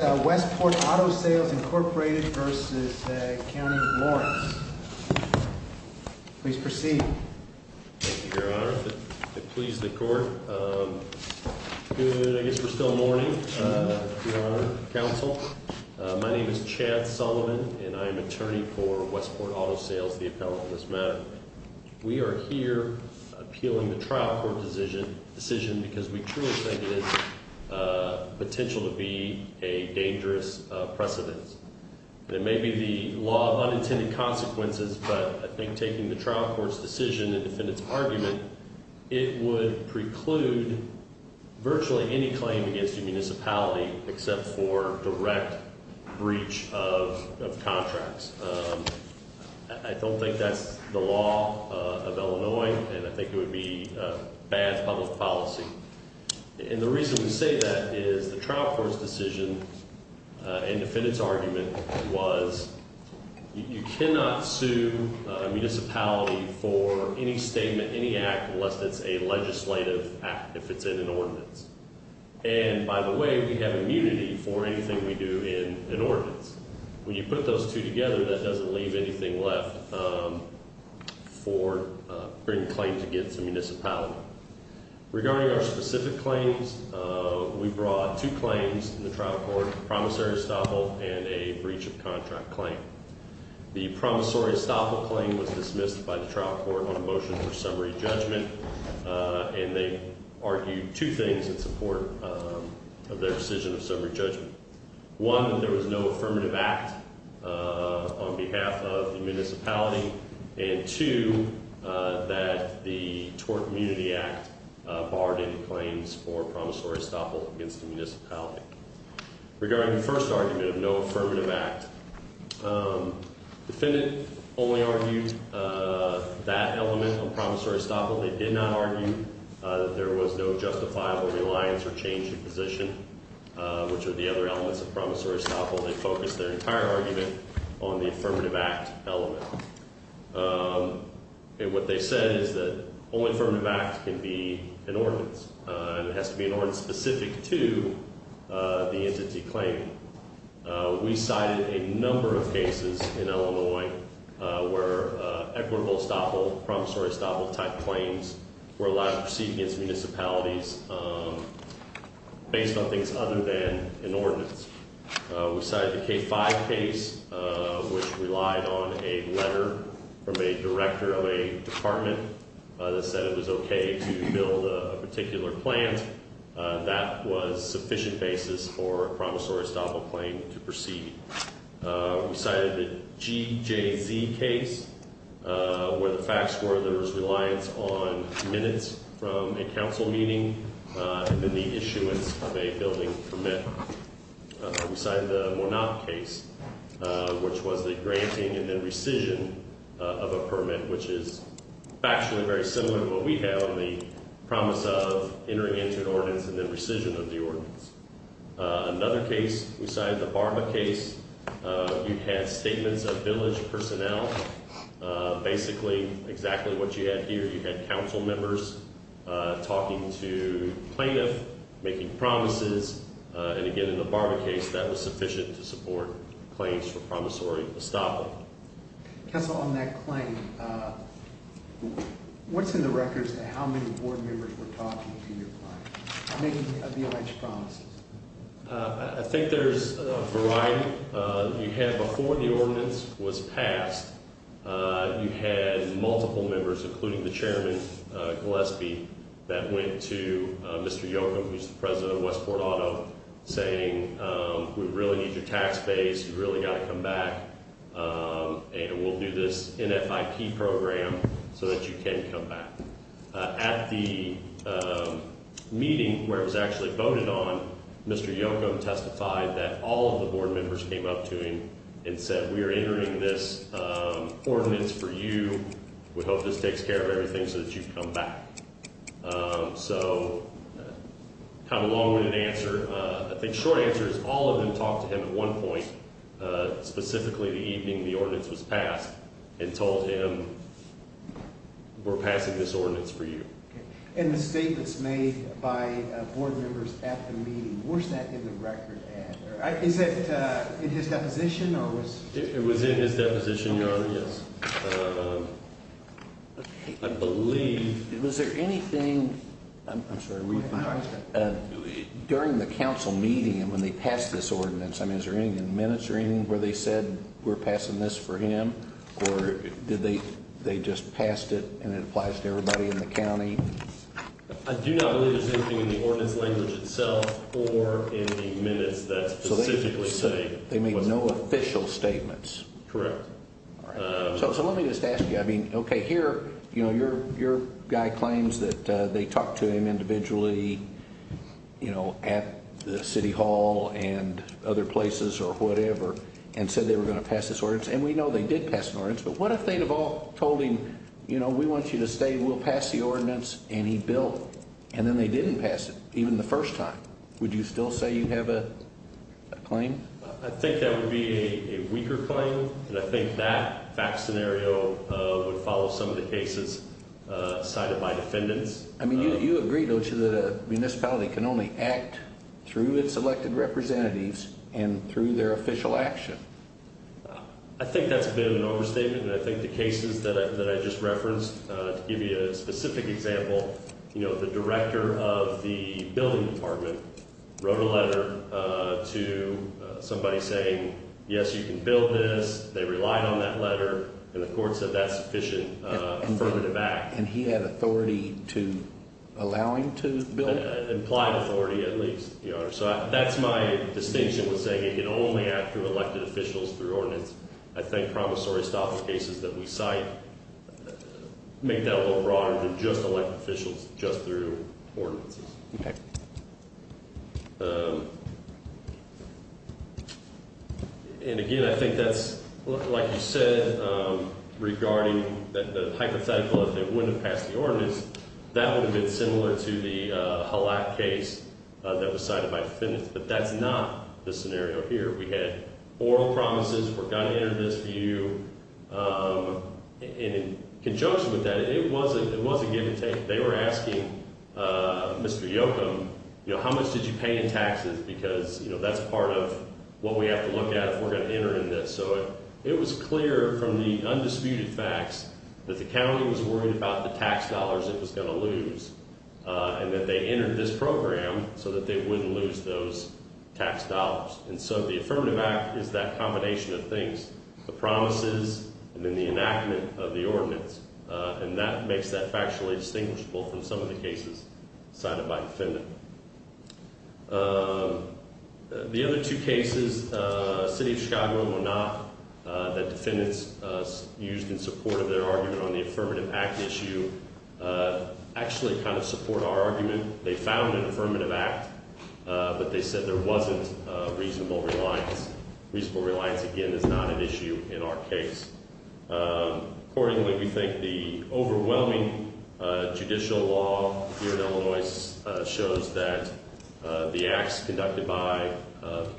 Westport Auto Sales, Inc. v. County of Lawrence. Please proceed. Thank you, Your Honor. It pleases the court. Good, I guess we're still morning, Your Honor, Counsel. My name is Chad Sullivan, and I am attorney for Westport Auto Sales, the appellant in this matter. We are here appealing the trial court decision because we truly think it has potential to be a dangerous precedence. It may be the law of unintended consequences, but I think taking the trial court's decision and defendant's argument, it would preclude virtually any claim against a municipality except for direct breach of contracts. I don't think that's the law of Illinois, and I think it would be bad public policy. And the reason we say that is the trial court's decision and defendant's argument was, you cannot sue a municipality for any statement, any act, unless it's a legislative act, if it's in an ordinance. And, by the way, we have immunity for anything we do in an ordinance. When you put those two together, that doesn't leave anything left for bringing claims against a municipality. Regarding our specific claims, we brought two claims in the trial court, a promissory estoppel and a breach of contract claim. The promissory estoppel claim was dismissed by the trial court on a motion for summary judgment, and they argued two things in support of their decision of summary judgment. One, that there was no affirmative act on behalf of the municipality, and two, that the Tort Immunity Act barred any claims for promissory estoppel against the municipality. Regarding the first argument of no affirmative act, defendant only argued that element of promissory estoppel. They did not argue that there was no justifiable reliance or change of position, which are the other elements of promissory estoppel. They focused their entire argument on the affirmative act element. And what they said is that only affirmative act can be an ordinance, and it has to be an ordinance specific to the entity claim. We cited a number of cases in Illinois where equitable estoppel, promissory estoppel type claims were allowed to proceed against municipalities based on things other than an ordinance. We cited the K5 case, which relied on a letter from a director of a department that said it was okay to build a particular plant. That was sufficient basis for a promissory estoppel claim to proceed. We cited the GJZ case, where the facts were there was reliance on minutes from a council meeting and then the issuance of a building permit. We cited the Monop case, which was the granting and then rescission of a permit, which is actually very similar to what we have in the promise of entering into an ordinance and then rescission of the ordinance. Another case, we cited the Barba case. You had statements of village personnel. Basically, exactly what you had here, you had council members talking to plaintiff, making promises. And again, in the Barba case, that was sufficient to support claims for promissory estoppel. Council, on that claim, what's in the records of how many board members were talking to your client? Making the alleged promises? I think there's a variety. You had before the ordinance was passed, you had multiple members, including the chairman, Gillespie, that went to Mr. Yocum, who's the president of Westport Auto, saying, We really need your tax base. You've really got to come back. And we'll do this NFIP program so that you can come back. At the meeting where it was actually voted on, Mr. Yocum testified that all of the board members came up to him and said, We are entering this ordinance for you. We hope this takes care of everything so that you come back. So kind of a long-winded answer. I think the short answer is all of them talked to him at one point, specifically the evening the ordinance was passed, and told him, We're passing this ordinance for you. And the statements made by board members at the meeting, where's that in the record at? Is it in his deposition? It was in his deposition, Your Honor, yes. I believe. Was there anything during the council meeting when they passed this ordinance? I mean, is there anything in the minutes or anything where they said, We're passing this for him? Or did they just passed it and it applies to everybody in the county? I do not believe there's anything in the ordinance language itself or in the minutes that specifically say. So they made no official statements. Correct. So let me just ask you. I mean, OK, here, you know, your guy claims that they talked to him individually, you know, at the city hall and other places or whatever, and said they were going to pass this ordinance. And we know they did pass an ordinance. But what if they'd have all told him, You know, we want you to stay. We'll pass the ordinance. And he built. And then they didn't pass it even the first time. Would you still say you have a claim? I think that would be a weaker claim. And I think that fact scenario would follow some of the cases cited by defendants. I mean, you agree, don't you, that a municipality can only act through its elected representatives and through their official action? I think that's been an overstatement. And I think the cases that I just referenced, to give you a specific example, you know, the director of the building department wrote a letter to somebody saying, yes, you can build this. They relied on that letter. And the court said that's sufficient. And further back. And he had authority to allow him to build. Implied authority, at least. So that's my distinction with saying it can only act through elected officials, through ordinance. I think promissory stopping cases that we cite make that a little broader than just elected officials, just through ordinances. And again, I think that's like you said, regarding the hypothetical, if they wouldn't have passed the ordinance, that would have been similar to the Halak case that was cited by defendants. But that's not the scenario here. We had oral promises. We're going to enter this view. And in conjunction with that, it was a give and take. They were asking Mr. Yocum, you know, how much did you pay in taxes? Because, you know, that's part of what we have to look at if we're going to enter in this. So it was clear from the undisputed facts that the county was worried about the tax dollars it was going to lose. And that they entered this program so that they wouldn't lose those tax dollars. And so the affirmative act is that combination of things. The promises and then the enactment of the ordinance. And that makes that factually distinguishable from some of the cases cited by defendant. The other two cases, City of Chicago and Monarch, that defendants used in support of their argument on the affirmative act issue, actually kind of support our argument. They found an affirmative act. But they said there wasn't reasonable reliance. Reasonable reliance, again, is not an issue in our case. Accordingly, we think the overwhelming judicial law here in Illinois shows that the acts conducted by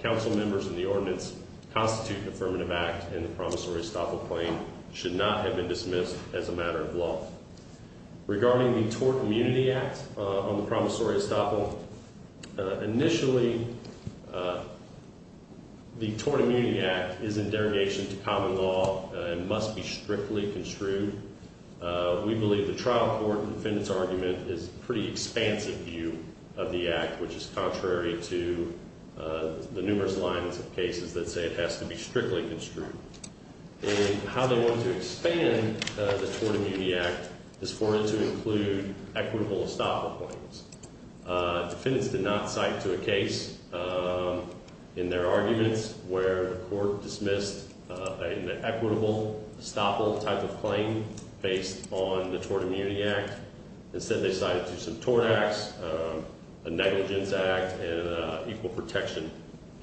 council members in the ordinance constitute an affirmative act. And the promissory estoppel claim should not have been dismissed as a matter of law. Regarding the tort immunity act on the promissory estoppel. Initially, the tort immunity act is in derogation to common law and must be strictly construed. We believe the trial court defendants argument is pretty expansive view of the act. Which is contrary to the numerous lines of cases that say it has to be strictly construed. And how they want to expand the tort immunity act is for it to include equitable estoppel claims. Defendants did not cite to a case in their arguments where the court dismissed an equitable estoppel type of claim based on the tort immunity act. Instead they cited to some tort acts, a negligence act and an equal protection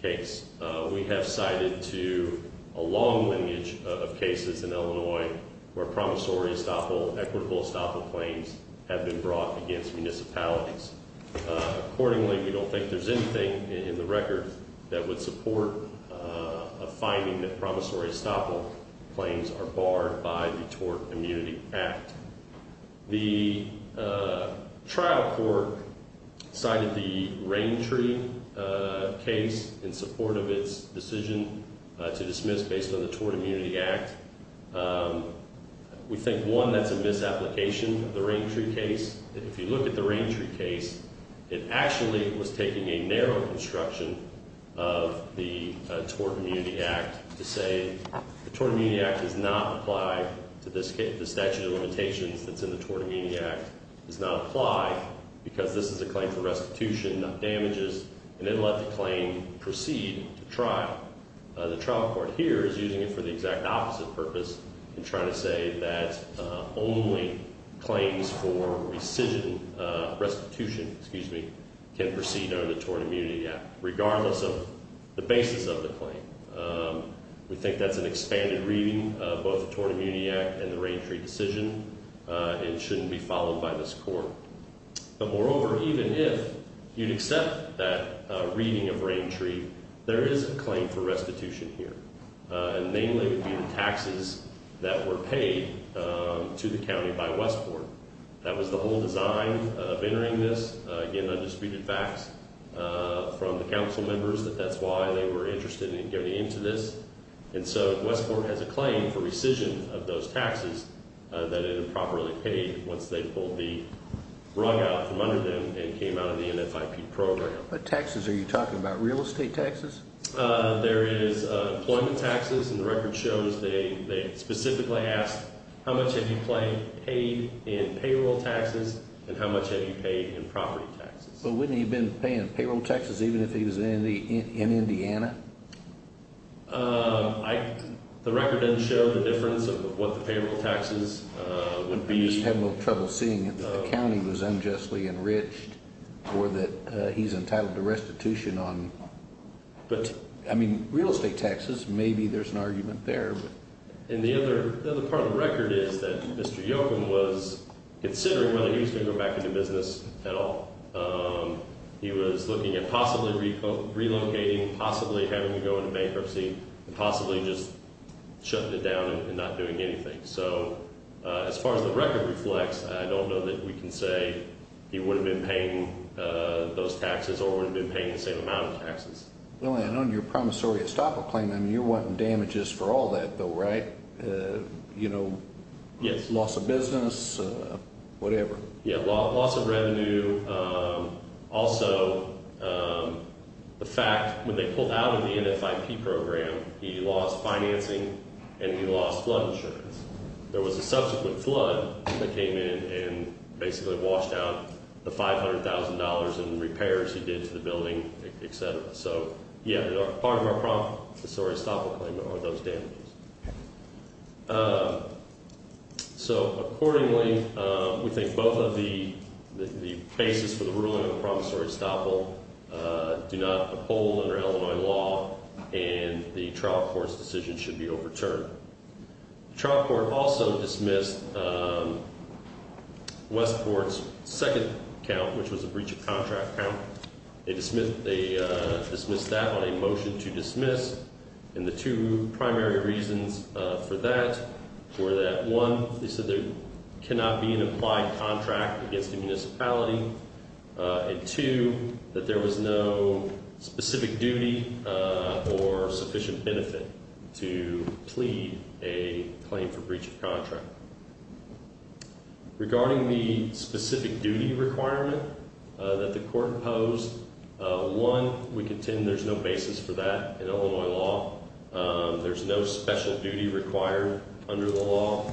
case. We have cited to a long lineage of cases in Illinois where promissory estoppel, equitable estoppel claims have been brought against municipalities. Accordingly, we don't think there's anything in the record that would support a finding that promissory estoppel claims are barred by the tort immunity act. The trial court cited the rain tree case in support of its decision to dismiss based on the tort immunity act. We think, one, that's a misapplication of the rain tree case. If you look at the rain tree case, it actually was taking a narrow construction of the tort immunity act. To say the tort immunity act does not apply to the statute of limitations that's in the tort immunity act. Does not apply because this is a claim for restitution, not damages. The trial court here is using it for the exact opposite purpose. In trying to say that only claims for rescission, restitution, excuse me, can proceed under the tort immunity act. Regardless of the basis of the claim. We think that's an expanded reading of both the tort immunity act and the rain tree decision. It shouldn't be followed by this court. But moreover, even if you'd accept that reading of rain tree, there is a claim for restitution here. And mainly would be the taxes that were paid to the county by Westport. That was the whole design of entering this. Again, undisputed facts from the council members that that's why they were interested in getting into this. And so Westport has a claim for rescission of those taxes that it improperly paid once they pulled the rug out from under them and came out of the NFIP program. But taxes, are you talking about real estate taxes? There is employment taxes and the record shows they specifically asked how much have you paid in payroll taxes and how much have you paid in property taxes. But wouldn't you have been paying payroll taxes even if he was in Indiana? The record didn't show the difference of what the payroll taxes would be. I'm just having a little trouble seeing it. The county was unjustly enriched or that he's entitled to restitution on. But I mean, real estate taxes, maybe there's an argument there. And the other part of the record is that Mr. Yoakum was considering whether he was going to go back into business at all. He was looking at possibly relocating, possibly having to go into bankruptcy, and possibly just shutting it down and not doing anything. So as far as the record reflects, I don't know that we can say he would have been paying those taxes or would have been paying the same amount of taxes. And on your promissory estoppel claim, you're wanting damages for all that though, right? You know, loss of business, whatever. Yeah, loss of revenue. Also, the fact when they pulled out of the NFIP program, he lost financing and he lost flood insurance. There was a subsequent flood that came in and basically washed out the $500,000 in repairs he did to the building, etc. So yeah, part of our promissory estoppel claim are those damages. So accordingly, we think both of the cases for the ruling of the promissory estoppel do not uphold under Illinois law and the trial court's decision should be overturned. The trial court also dismissed Westport's second count, which was a breach of contract count. They dismissed that on a motion to dismiss. And the two primary reasons for that were that, one, they said there cannot be an implied contract against the municipality, and two, that there was no specific duty or sufficient benefit to plead a claim for breach of contract. Regarding the specific duty requirement that the court imposed, one, we contend there's no basis for that in Illinois law. There's no special duty required under the law.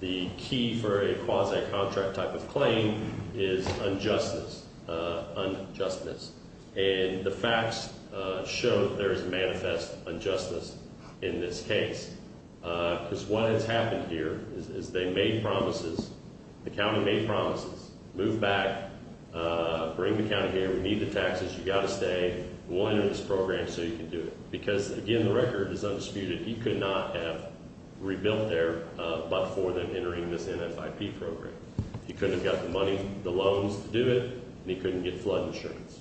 The key for a quasi-contract type of claim is unjustness. And the facts show there is manifest injustice in this case. Because what has happened here is they made promises. The county made promises. Move back. Bring the county here. We need the taxes. You've got to stay. We'll enter this program so you can do it. Because, again, the record is undisputed. He could not have rebuilt there but for them entering this NFIP program. He couldn't have got the money, the loans to do it, and he couldn't get flood insurance.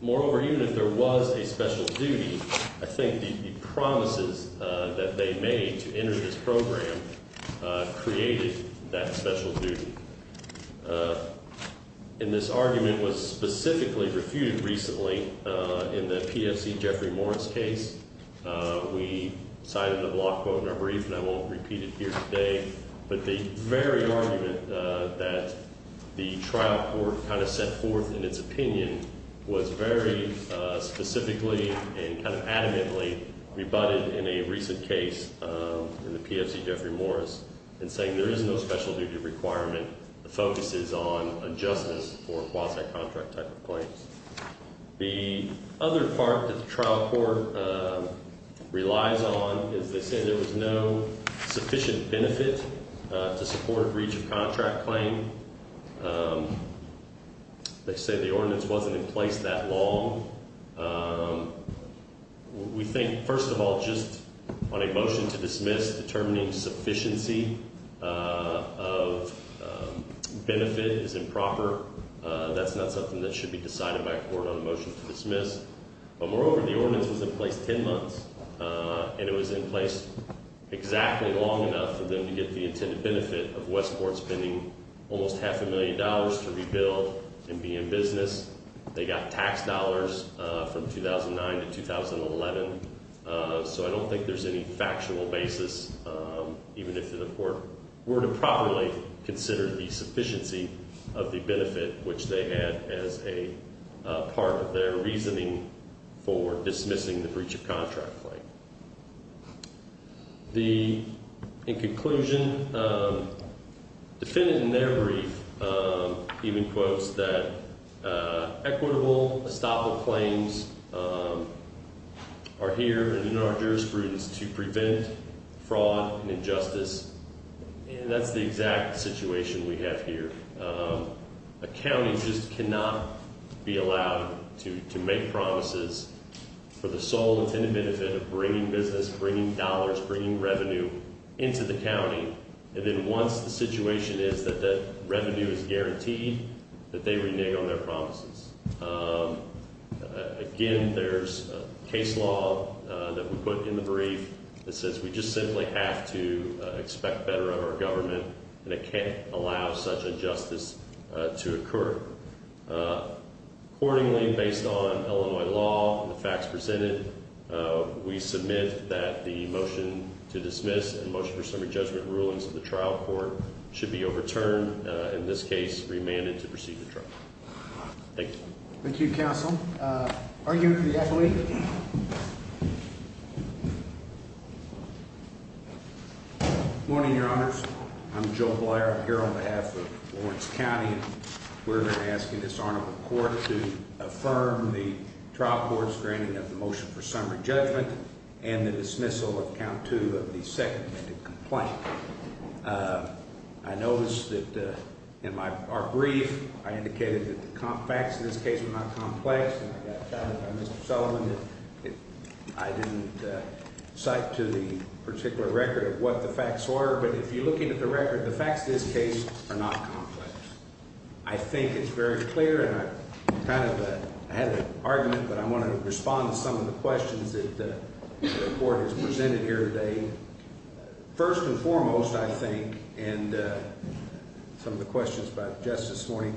Moreover, even if there was a special duty, I think the promises that they made to enter this program created that special duty. And this argument was specifically refuted recently in the PFC Jeffrey Morris case. We cited the block quote in our brief, and I won't repeat it here today. But the very argument that the trial court kind of set forth in its opinion was very specifically and kind of adamantly rebutted in a recent case in the PFC Jeffrey Morris. In saying there is no special duty requirement. The focus is on justice for quasi-contract type of claims. The other part that the trial court relies on is they said there was no sufficient benefit to support breach of contract claim. They said the ordinance wasn't in place that long. We think, first of all, just on a motion to dismiss, determining sufficiency of benefit is improper. That's not something that should be decided by a court on a motion to dismiss. But moreover, the ordinance was in place ten months. And it was in place exactly long enough for them to get the intended benefit of Westport spending almost half a million dollars to rebuild and be in business. They got tax dollars from 2009 to 2011. So I don't think there's any factual basis, even if the court were to properly consider the sufficiency of the benefit, which they had as a part of their reasoning for dismissing the breach of contract claim. In conclusion, defendant in their brief even quotes that equitable estoppel claims are here and in our jurisprudence to prevent fraud and injustice. And that's the exact situation we have here. A county just cannot be allowed to make promises for the sole intended benefit of bringing business, bringing dollars, bringing revenue into the county. And then once the situation is that that revenue is guaranteed, that they renege on their promises. Again, there's a case law that we put in the brief that says we just simply have to expect better of our government. And it can't allow such injustice to occur. Accordingly, based on Illinois law and the facts presented, we submit that the motion to dismiss and motion for summary judgment rulings of the trial court should be overturned. In this case, remanded to proceed the trial. Thank you. Thank you, counsel. Arguing for the affiliate. Thank you. Morning, your honors. I'm Joe Blair here on behalf of Lawrence County. We're asking this honorable court to affirm the trial court's granting of the motion for summary judgment and the dismissal of count to the second complaint. I noticed that in my brief, I indicated that the facts in this case are not complex. So I didn't cite to the particular record of what the facts were. But if you're looking at the record, the facts in this case are not complex. I think it's very clear and I kind of had an argument, but I want to respond to some of the questions that the court has presented here today. First and foremost, I think, and some of the questions about just this morning.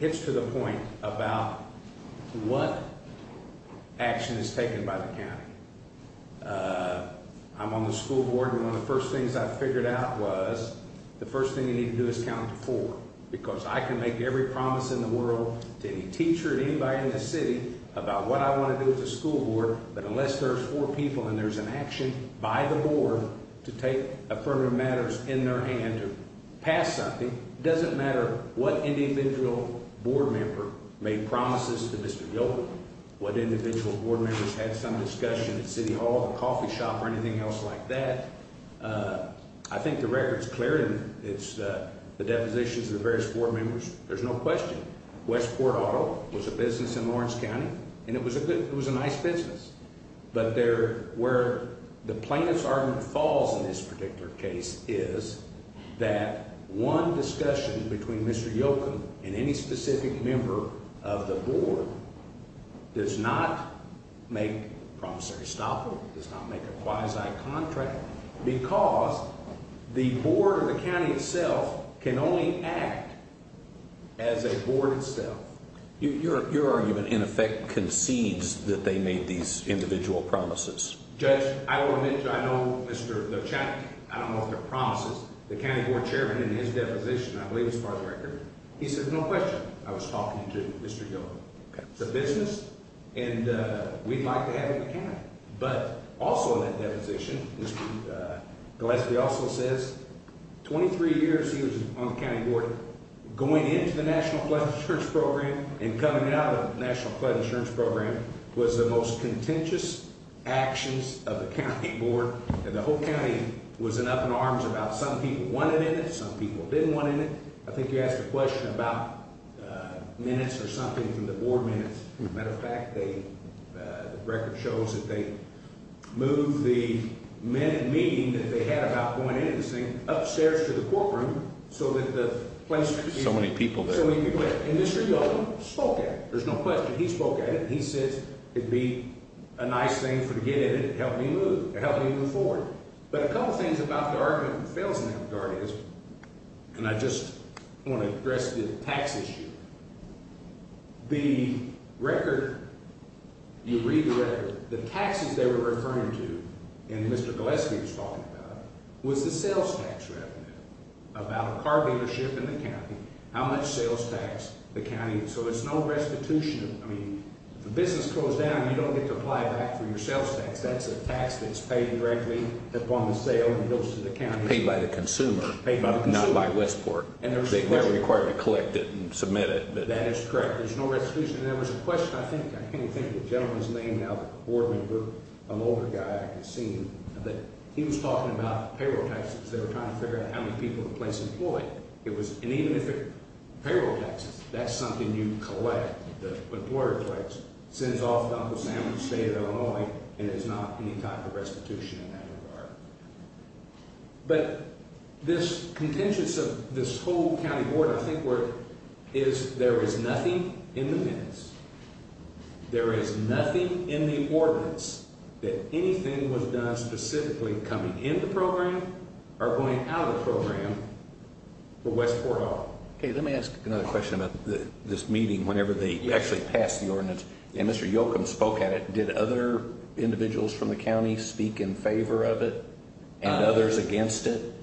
It's to the point about what action is taken by the county. I'm on the school board. One of the first things I figured out was the first thing you need to do is count for because I can make every promise in the world to any teacher, anybody in the city about what I want to do with the school board. But unless there's four people and there's an action by the board to take affirmative matters in their hand to pass something. It doesn't matter what individual board member made promises to Mr. Gilbert, what individual board members had some discussion at City Hall, the coffee shop or anything else like that. I think the record is clear and it's the depositions of the various board members. There's no question. Westport Auto was a business in Lawrence County and it was a good, it was a nice business. But there were the plaintiff's argument falls in this particular case is that one discussion between Mr. Yoko and any specific member of the board does not make promissory stop. Does not make a quasi contract because the board of the county itself can only act as a board itself. Your argument in effect concedes that they made these individual promises. Judge, I will admit to I know Mr. The check. I don't want their promises. The county board chairman in his deposition, I believe, as far as record, he said, no question. I was talking to Mr. Gilbert. It's a business and we'd like to have a mechanic. But also in that deposition, Mr. Gillespie also says 23 years. He was on the county board going into the national flood insurance program and coming out of national flood insurance program was the most contentious actions of the county board. And the whole county was in up in arms about some people wanted it. Some people didn't want it. I think you asked a question about minutes or something from the board minutes. Matter of fact, the record shows that they move the meeting that they had about going into this thing upstairs to the courtroom. So that the place so many people spoke. There's no question. He spoke at it. He says it'd be a nice thing for to get it. Help me move. Help me move forward. But a couple of things about the argument fails in that regard. And I just want to address the tax issue. The record. You read the taxes they were referring to. And Mr. Gillespie was talking about was the sales tax revenue. About a car dealership in the county. How much sales tax the county. So it's no restitution. I mean, the business closed down. You don't get to apply back for your sales tax. That's a tax that's paid directly upon the sale and goes to the county. Paid by the consumer. Not by Westport. And they're required to collect it and submit it. That is correct. There's no restitution. And there was a question, I think. I can't think of the gentleman's name now. The board member. An older guy I've seen. But he was talking about payroll taxes. They were trying to figure out how many people the place employed. It was. And even if it. Payroll taxes. That's something you collect. The employer collects. Sends off to Uncle Sam's estate in Illinois. And there's not any type of restitution in that regard. But. This contentious of this whole county board. Is there is nothing in the minutes. There is nothing in the ordinance. That anything was done specifically coming in the program. Or going out of the program. For Westport Hall. Let me ask another question about this meeting. Whenever they actually passed the ordinance. And Mr. Yoakum spoke at it. Did other individuals from the county speak in favor of it? And others against it?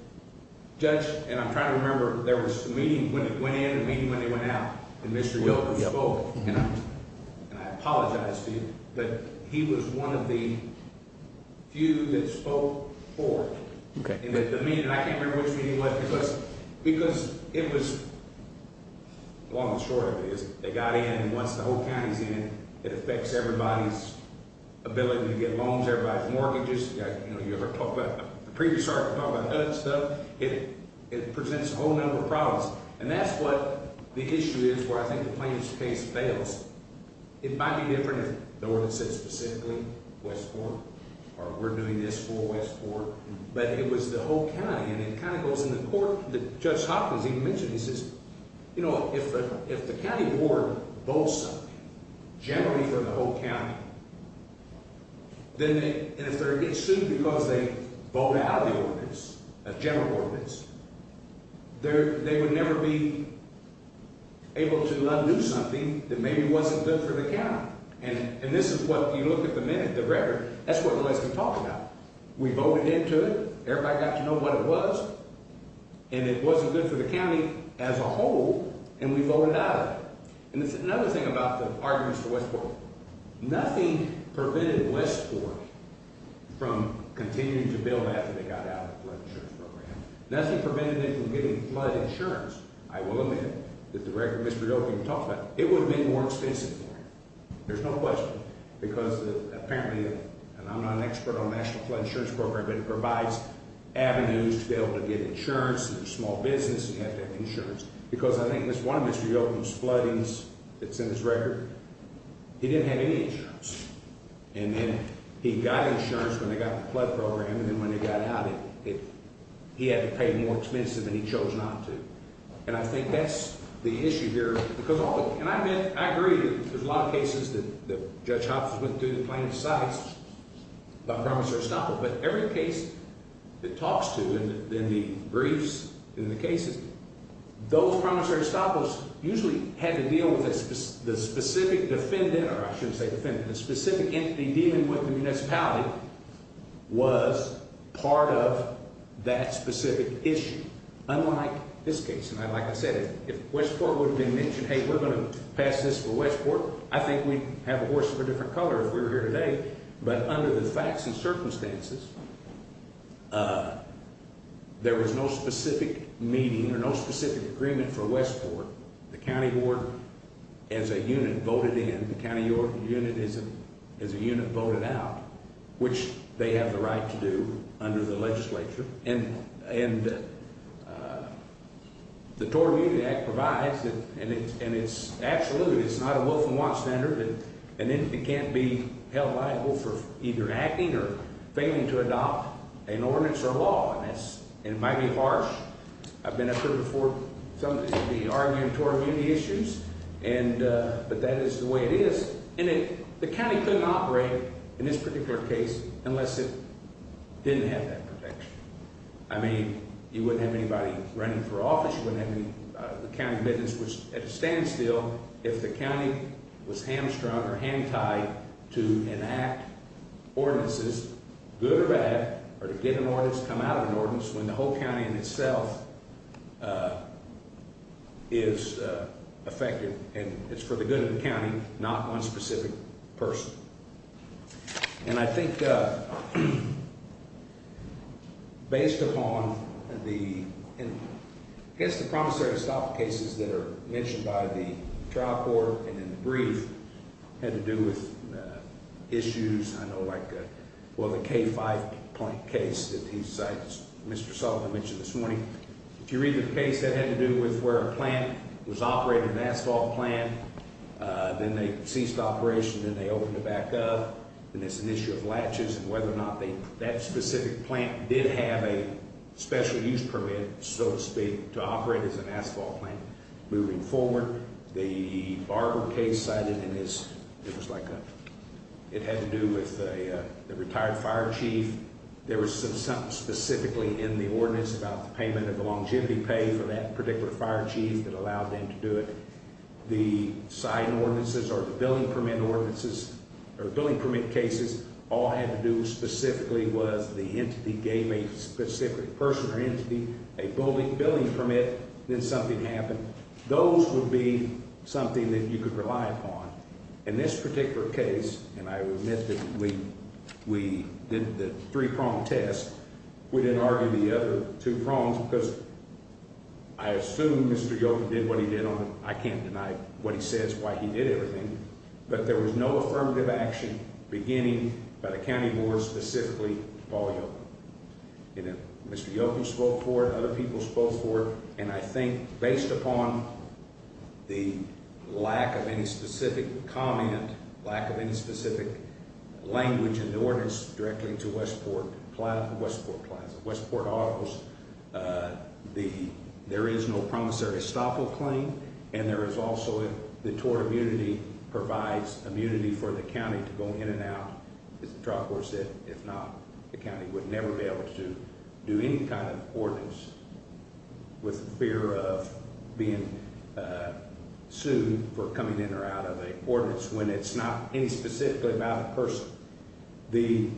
Judge. And I'm trying to remember. There was a meeting when it went in. A meeting when they went out. And Mr. Yoakum spoke. And I apologize to you. But he was one of the. Few that spoke for it. Okay. And the meeting. And I can't remember which meeting it was. Because. Because it was. Long and short of it is. They got in. And once the whole county's in. It affects everybody's. Ability to get loans. Everybody's mortgages. You ever talk about. The previous sergeant talked about that stuff. It. It presents a whole number of problems. And that's what. The issue is. Where I think the plaintiff's case fails. It might be different. If the ordinance said specifically. Westport. Or we're doing this for Westport. But it was the whole county. And it kind of goes in the court. That Judge Hopkins even mentioned. He says. You know. If the. If the county board. Votes. Generally for the whole county. Then they. And if they're. It's sued because they. Vote out of the ordinance. A general ordinance. There. They would never be. Able to. Do something. That maybe wasn't good. For the county. And. And this is what. You look at the minute. The record. That's what. We talked about. We voted into it. Everybody got to know. What it was. And it wasn't good. For the county. As a whole. And we voted out. And it's another thing. About the. Arguments for Westport. Nothing. Prevented Westport. From. Continuing to build. After they got out. Of the flood insurance program. Nothing. Prevented it from getting. Flood insurance. I will. Admit. That the record. Mr. Jokin. Talked about. It would have been. More expensive. There's no question. Because. Apparently. And I'm not an expert. On national. Flood insurance program. But it provides. Avenues. To be able. To get insurance. And small business. And have to have insurance. Because I think. That's one of Mr. Jokin's. Floodings. That's in his record. He didn't have any. Flood insurance. And then. He got insurance. When they got. The flood program. And then when they got out. It. He had to pay. More expensive. And he chose not to. And I think that's. The issue here. Because all. And I admit. I agree. There's a lot of cases. That the. Judge Hopson. Went through the claims. Sites. By. Promissory stopper. But every case. That talks to. In the. Briefs. In the cases. Those. Promissory stoppers. Usually. Had to deal with. The specific. Defendant. Or I shouldn't say defendant. The specific entity. Dealing with. The municipality. Was. Part of. That specific. Issue. Unlike. This case. And I'd like to say. If Westport. Would have been mentioned. Hey. We're going to. Pass this for Westport. I think we. Have a horse. Of a different color. If we were here today. But under the facts. And circumstances. There was no specific. Meeting. Or no specific. Agreement. For Westport. The county. Ward. As a unit. Voted in. The county. Your unit. Is a. As a unit. Voted out. Which. They have the right. To do. Under the legislature. And. And. The Torb. Union Act. Provides. And it's. And it's. Absolutely. It's not a. Wolf. And want. Standard. And it. Can't be. Held liable. For either. Acting or. Failing to adopt. An ordinance. Or law. On this. And it might be harsh. I've been. I've heard before. Some of these. Be arguing. Torb. Union issues. And. But that is. The way it is. And it. The county. Couldn't operate. In this particular case. Unless it. Didn't have that. Protection. I mean. You wouldn't have anybody. Running for office. You wouldn't have any. The county. And you. You need someone to. Grant. You a commitment. Which. At a standstill. If the county. Was hamstrung. Or hand tied. To enact. Ordinances. Good or bad. Or to get an ordinance. Come out of an ordinance. When the whole county. In itself. Is. Affected. And it's for the good of the county. Not one specific. Person. And I think. Based upon. The. It. Has the promissory. To stop the cases. That are. Mentioned by the. Trial court. And in the brief. Had to do with. Issues. I know. Like. Well the K5. Point case. That he's. Mr. Sullivan. Mentioned this morning. If you read the case. That had to do with. Where a plant. Was operated. An asphalt plant. Then they ceased operation. Then they opened it back up. And it's an issue. Of latches. And whether or not. They. That specific plant. Did have a. Special use permit. So to speak. To operate. As an asphalt plant. Moving forward. The. Barber case. Cited in this. It was like a. It had to do with. A. Retired fire chief. There was some. Something specifically. In the ordinance. About the payment. Of the longevity pay. For that particular. Fire chief. That allowed them. To do it. The sign ordinances. Or the billing. Permit ordinances. Or billing. Permit cases. All had to do. Specifically. Was the entity. Gave a specific. Person or entity. A building. Billing permit. Then something happened. Those would be. Something. That you could rely upon. In this particular case. And I. Admit that. We. We. Did the. Three prong test. We didn't argue. The other. Two prongs. Because. I assume. Mr. Yogan did what he did on. I can't deny. What he says. Why he did everything. But there was no. Affirmative action. Beginning. By the county board. Specifically. Paul Yogan. You know. Mr. Yogan spoke for. Other people spoke for. And I think. Based upon. The. Lack of any specific. Comment. Lack of any specific. Language. In the ordinance. Directly. To Westport. Westport Plaza. Westport Autos. The. There is no. Promissory. Estoppel claim. And there is also. The tour. Immunity. Provides. Immunity for the county. To go in and out. As the trial court said. If not. The county. Would never be able to. Do any kind of. Ordinance. With. Fear of. Being. Sued. For coming in. Or out of a. Ordinance. When it's not. Any specific. About a person. The.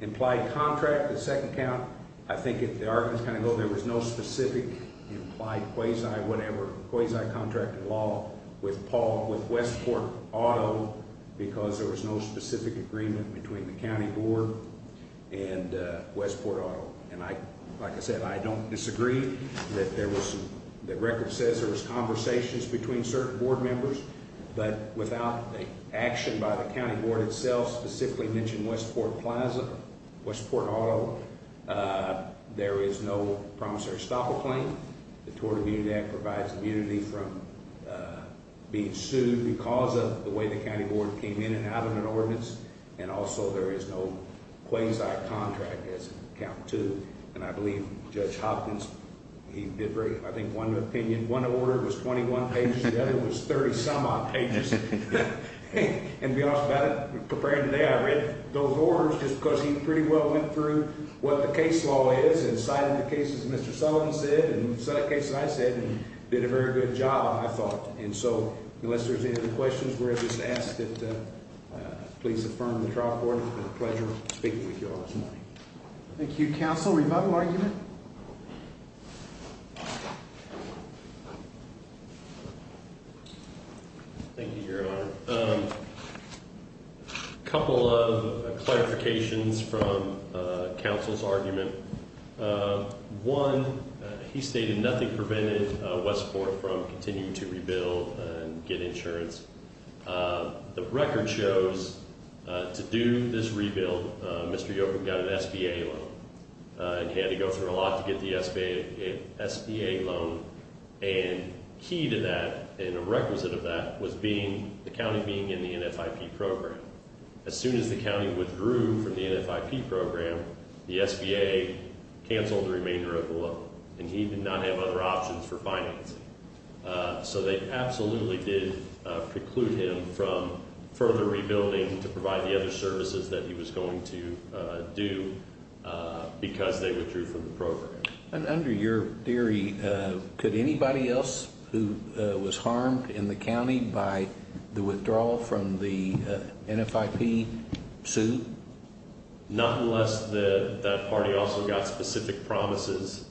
Implied contract. The second count. I think it. The Arkansas County. Law. There was no specific. Implied. Quasi. Whatever. Quasi. Contract. In law. With Paul. With Westport. Auto. Because there was. No specific. Agreement. Between the county. Board. And Westport. Auto. And I. Like I said. I don't disagree. That there was. The record says. There was conversations. Between certain. Board members. But without. The action. By the county. Board itself. Specifically mentioned. Westport Plaza. Westport. Auto. There is no. Promissory. Stop a claim. The tour. Immunity. Act. There is no way. The county. Board. Came in. And out. Of an ordinance. And also. There is no. Quasi. Contract. As. Count to. And I believe. Judge. Hopkins. He did. Very. I think. One opinion. One order. Was 21. Pages. The other. Was 30. Some odd. Pages. And be honest about it. Preparing today. I read. Those orders. Just because. He pretty well. Went through. What the case. Law is. And cited. The cases. Mr. Sullivan. Said. And said. A case. And I said. Did a very good job. I thought. And so. Unless there's any. Other questions. We're just. Asked it. Please. Affirm. The trial. Court. Pleasure. Speaking. With you all. This morning. Thank you. Thank you for having us. And he and his. Father. And you. To go through a lot. To get the SBA. A. S. SA loan. And. He to that. In a requisite event. Was being. A county being in the N. F. I. P program. As soon as the county would. For the entire. Program. The SBA a. Cancel. Remain. Durable and he did not have other. Options for findings. So. They absolutely. Did preclude him from. Further rebuilding. To provide the other services. That he was going to. Do. Because they withdrew. From the program. And under your theory. Could anybody else. Who was harmed. In the county. By the withdrawal. From the. N. F. I. P. Sue. Not unless. The party. Also got specific. Promises.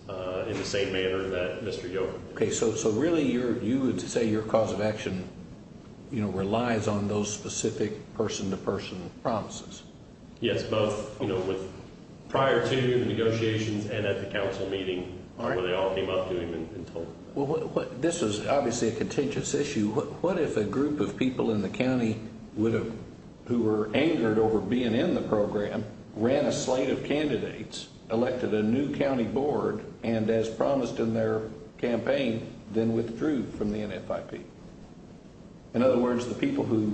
In the same manner. That Mr. York. Okay. So. So really. You're you. Would say. Your cause of action. You know. Relies on those specific. Person to person. Promises. Yes. Both. You know. With. Prior to. The negotiations. And at the council meeting. All right. They all came up to him. And told. This is obviously. A contentious issue. What if. A group of people. In the county. Would have. Who were. Angered over. Being in the program. Ran a slate of candidates. Elected a new county board. And as promised. In their campaign. Then withdrew. From the NFIP. In other words. The people who.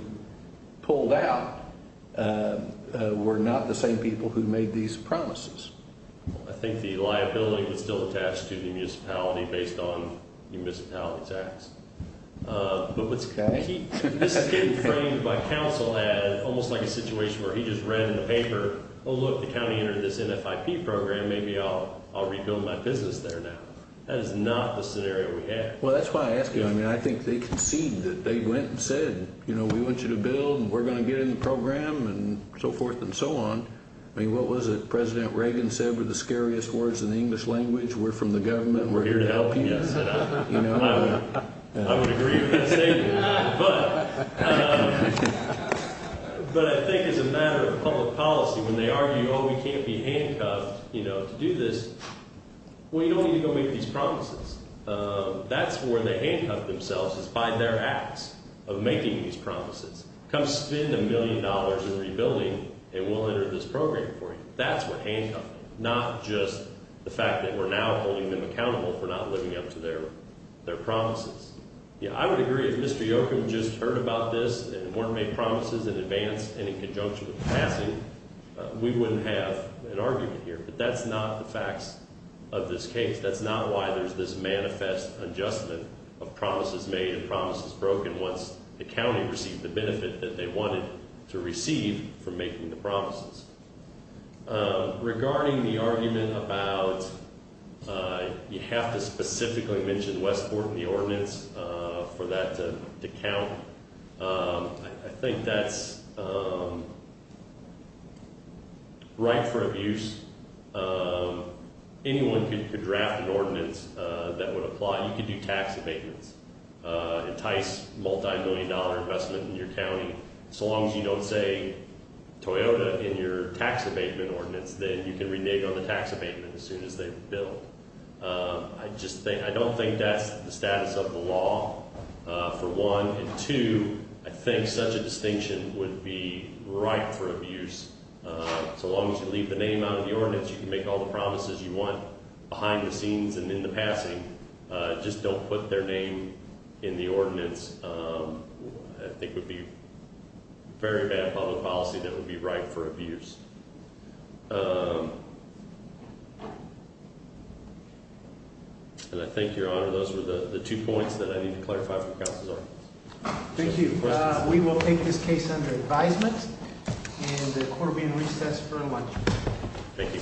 Pulled out. Were not the same people. Who made these promises. I think. The liability. Was still attached. To the municipality. Based on. Municipality. Tax. But what's. Okay. This is getting. Framed. By council. As. Almost like a situation. Where he just read. In the paper. Oh look. The county entered. This NFIP program. Maybe I'll. I'll rebuild. My business there now. That is not the scenario. We have. Well. That's why I ask you. I mean. I think they concede. That they went. And said. You know. We want you to build. And we're going to get in the program. And so forth. And so on. I mean. What was it? President Reagan said. Were the scariest words. In the English language. We're from the government. We're here to help you. You know. I would agree with that statement. But. But I think. As a matter of public policy. When they argue. Oh we can't be handcuffed. You know. To do this. Well. You don't need to go make these promises. That's where they handcuff themselves. Is by their acts. Of making these promises. Come spend a million dollars. In rebuilding. And we'll enter this program for you. That's where handcuffing. Not just. The fact that we're now. Holding them accountable. For not living up to their. Their promises. Yeah. I would agree. If Mr. Yoakum. Just heard about this. And weren't made promises. In advance. And in conjunction. With the passing. We wouldn't have. An argument here. But that's not the facts. Of this case. That's not why. There's this manifest. Adjustment. Of promises made. And promises broken. Once. The county. Received the benefit. That they wanted. To receive. For making the promises. Regarding the argument. About. You have to specifically. Mention Westport. In the ordinance. For that. To count. I think that's. Right for abuse. And I think. Anyone. Could draft an ordinance. That would apply. You could do tax abatements. Entice. Multi-million dollar investment. In your county. So long as you don't say. Toyota. In your tax abatement ordinance. Then you can renege on the tax abatement. As soon as they build. I just think. I don't think that's. The status of the law. For one. And two. You can make all the promises. You want to make. You can make all the promises. You can make all the promises. You can make all the promises. You can make all the promises. You just don't want. Behind the scenes. And in the passing. Just don't put their name. In the ordinance. I think would be. Very bad public policy. That would be right. For abuse. I think your Honor. Those were the two points. That I need to clarify. Thank you. Thank you. Thank you very much. Thank you. Thank you. Thank you. Thank you. Thank you. Thank you. Thank you. Thank you.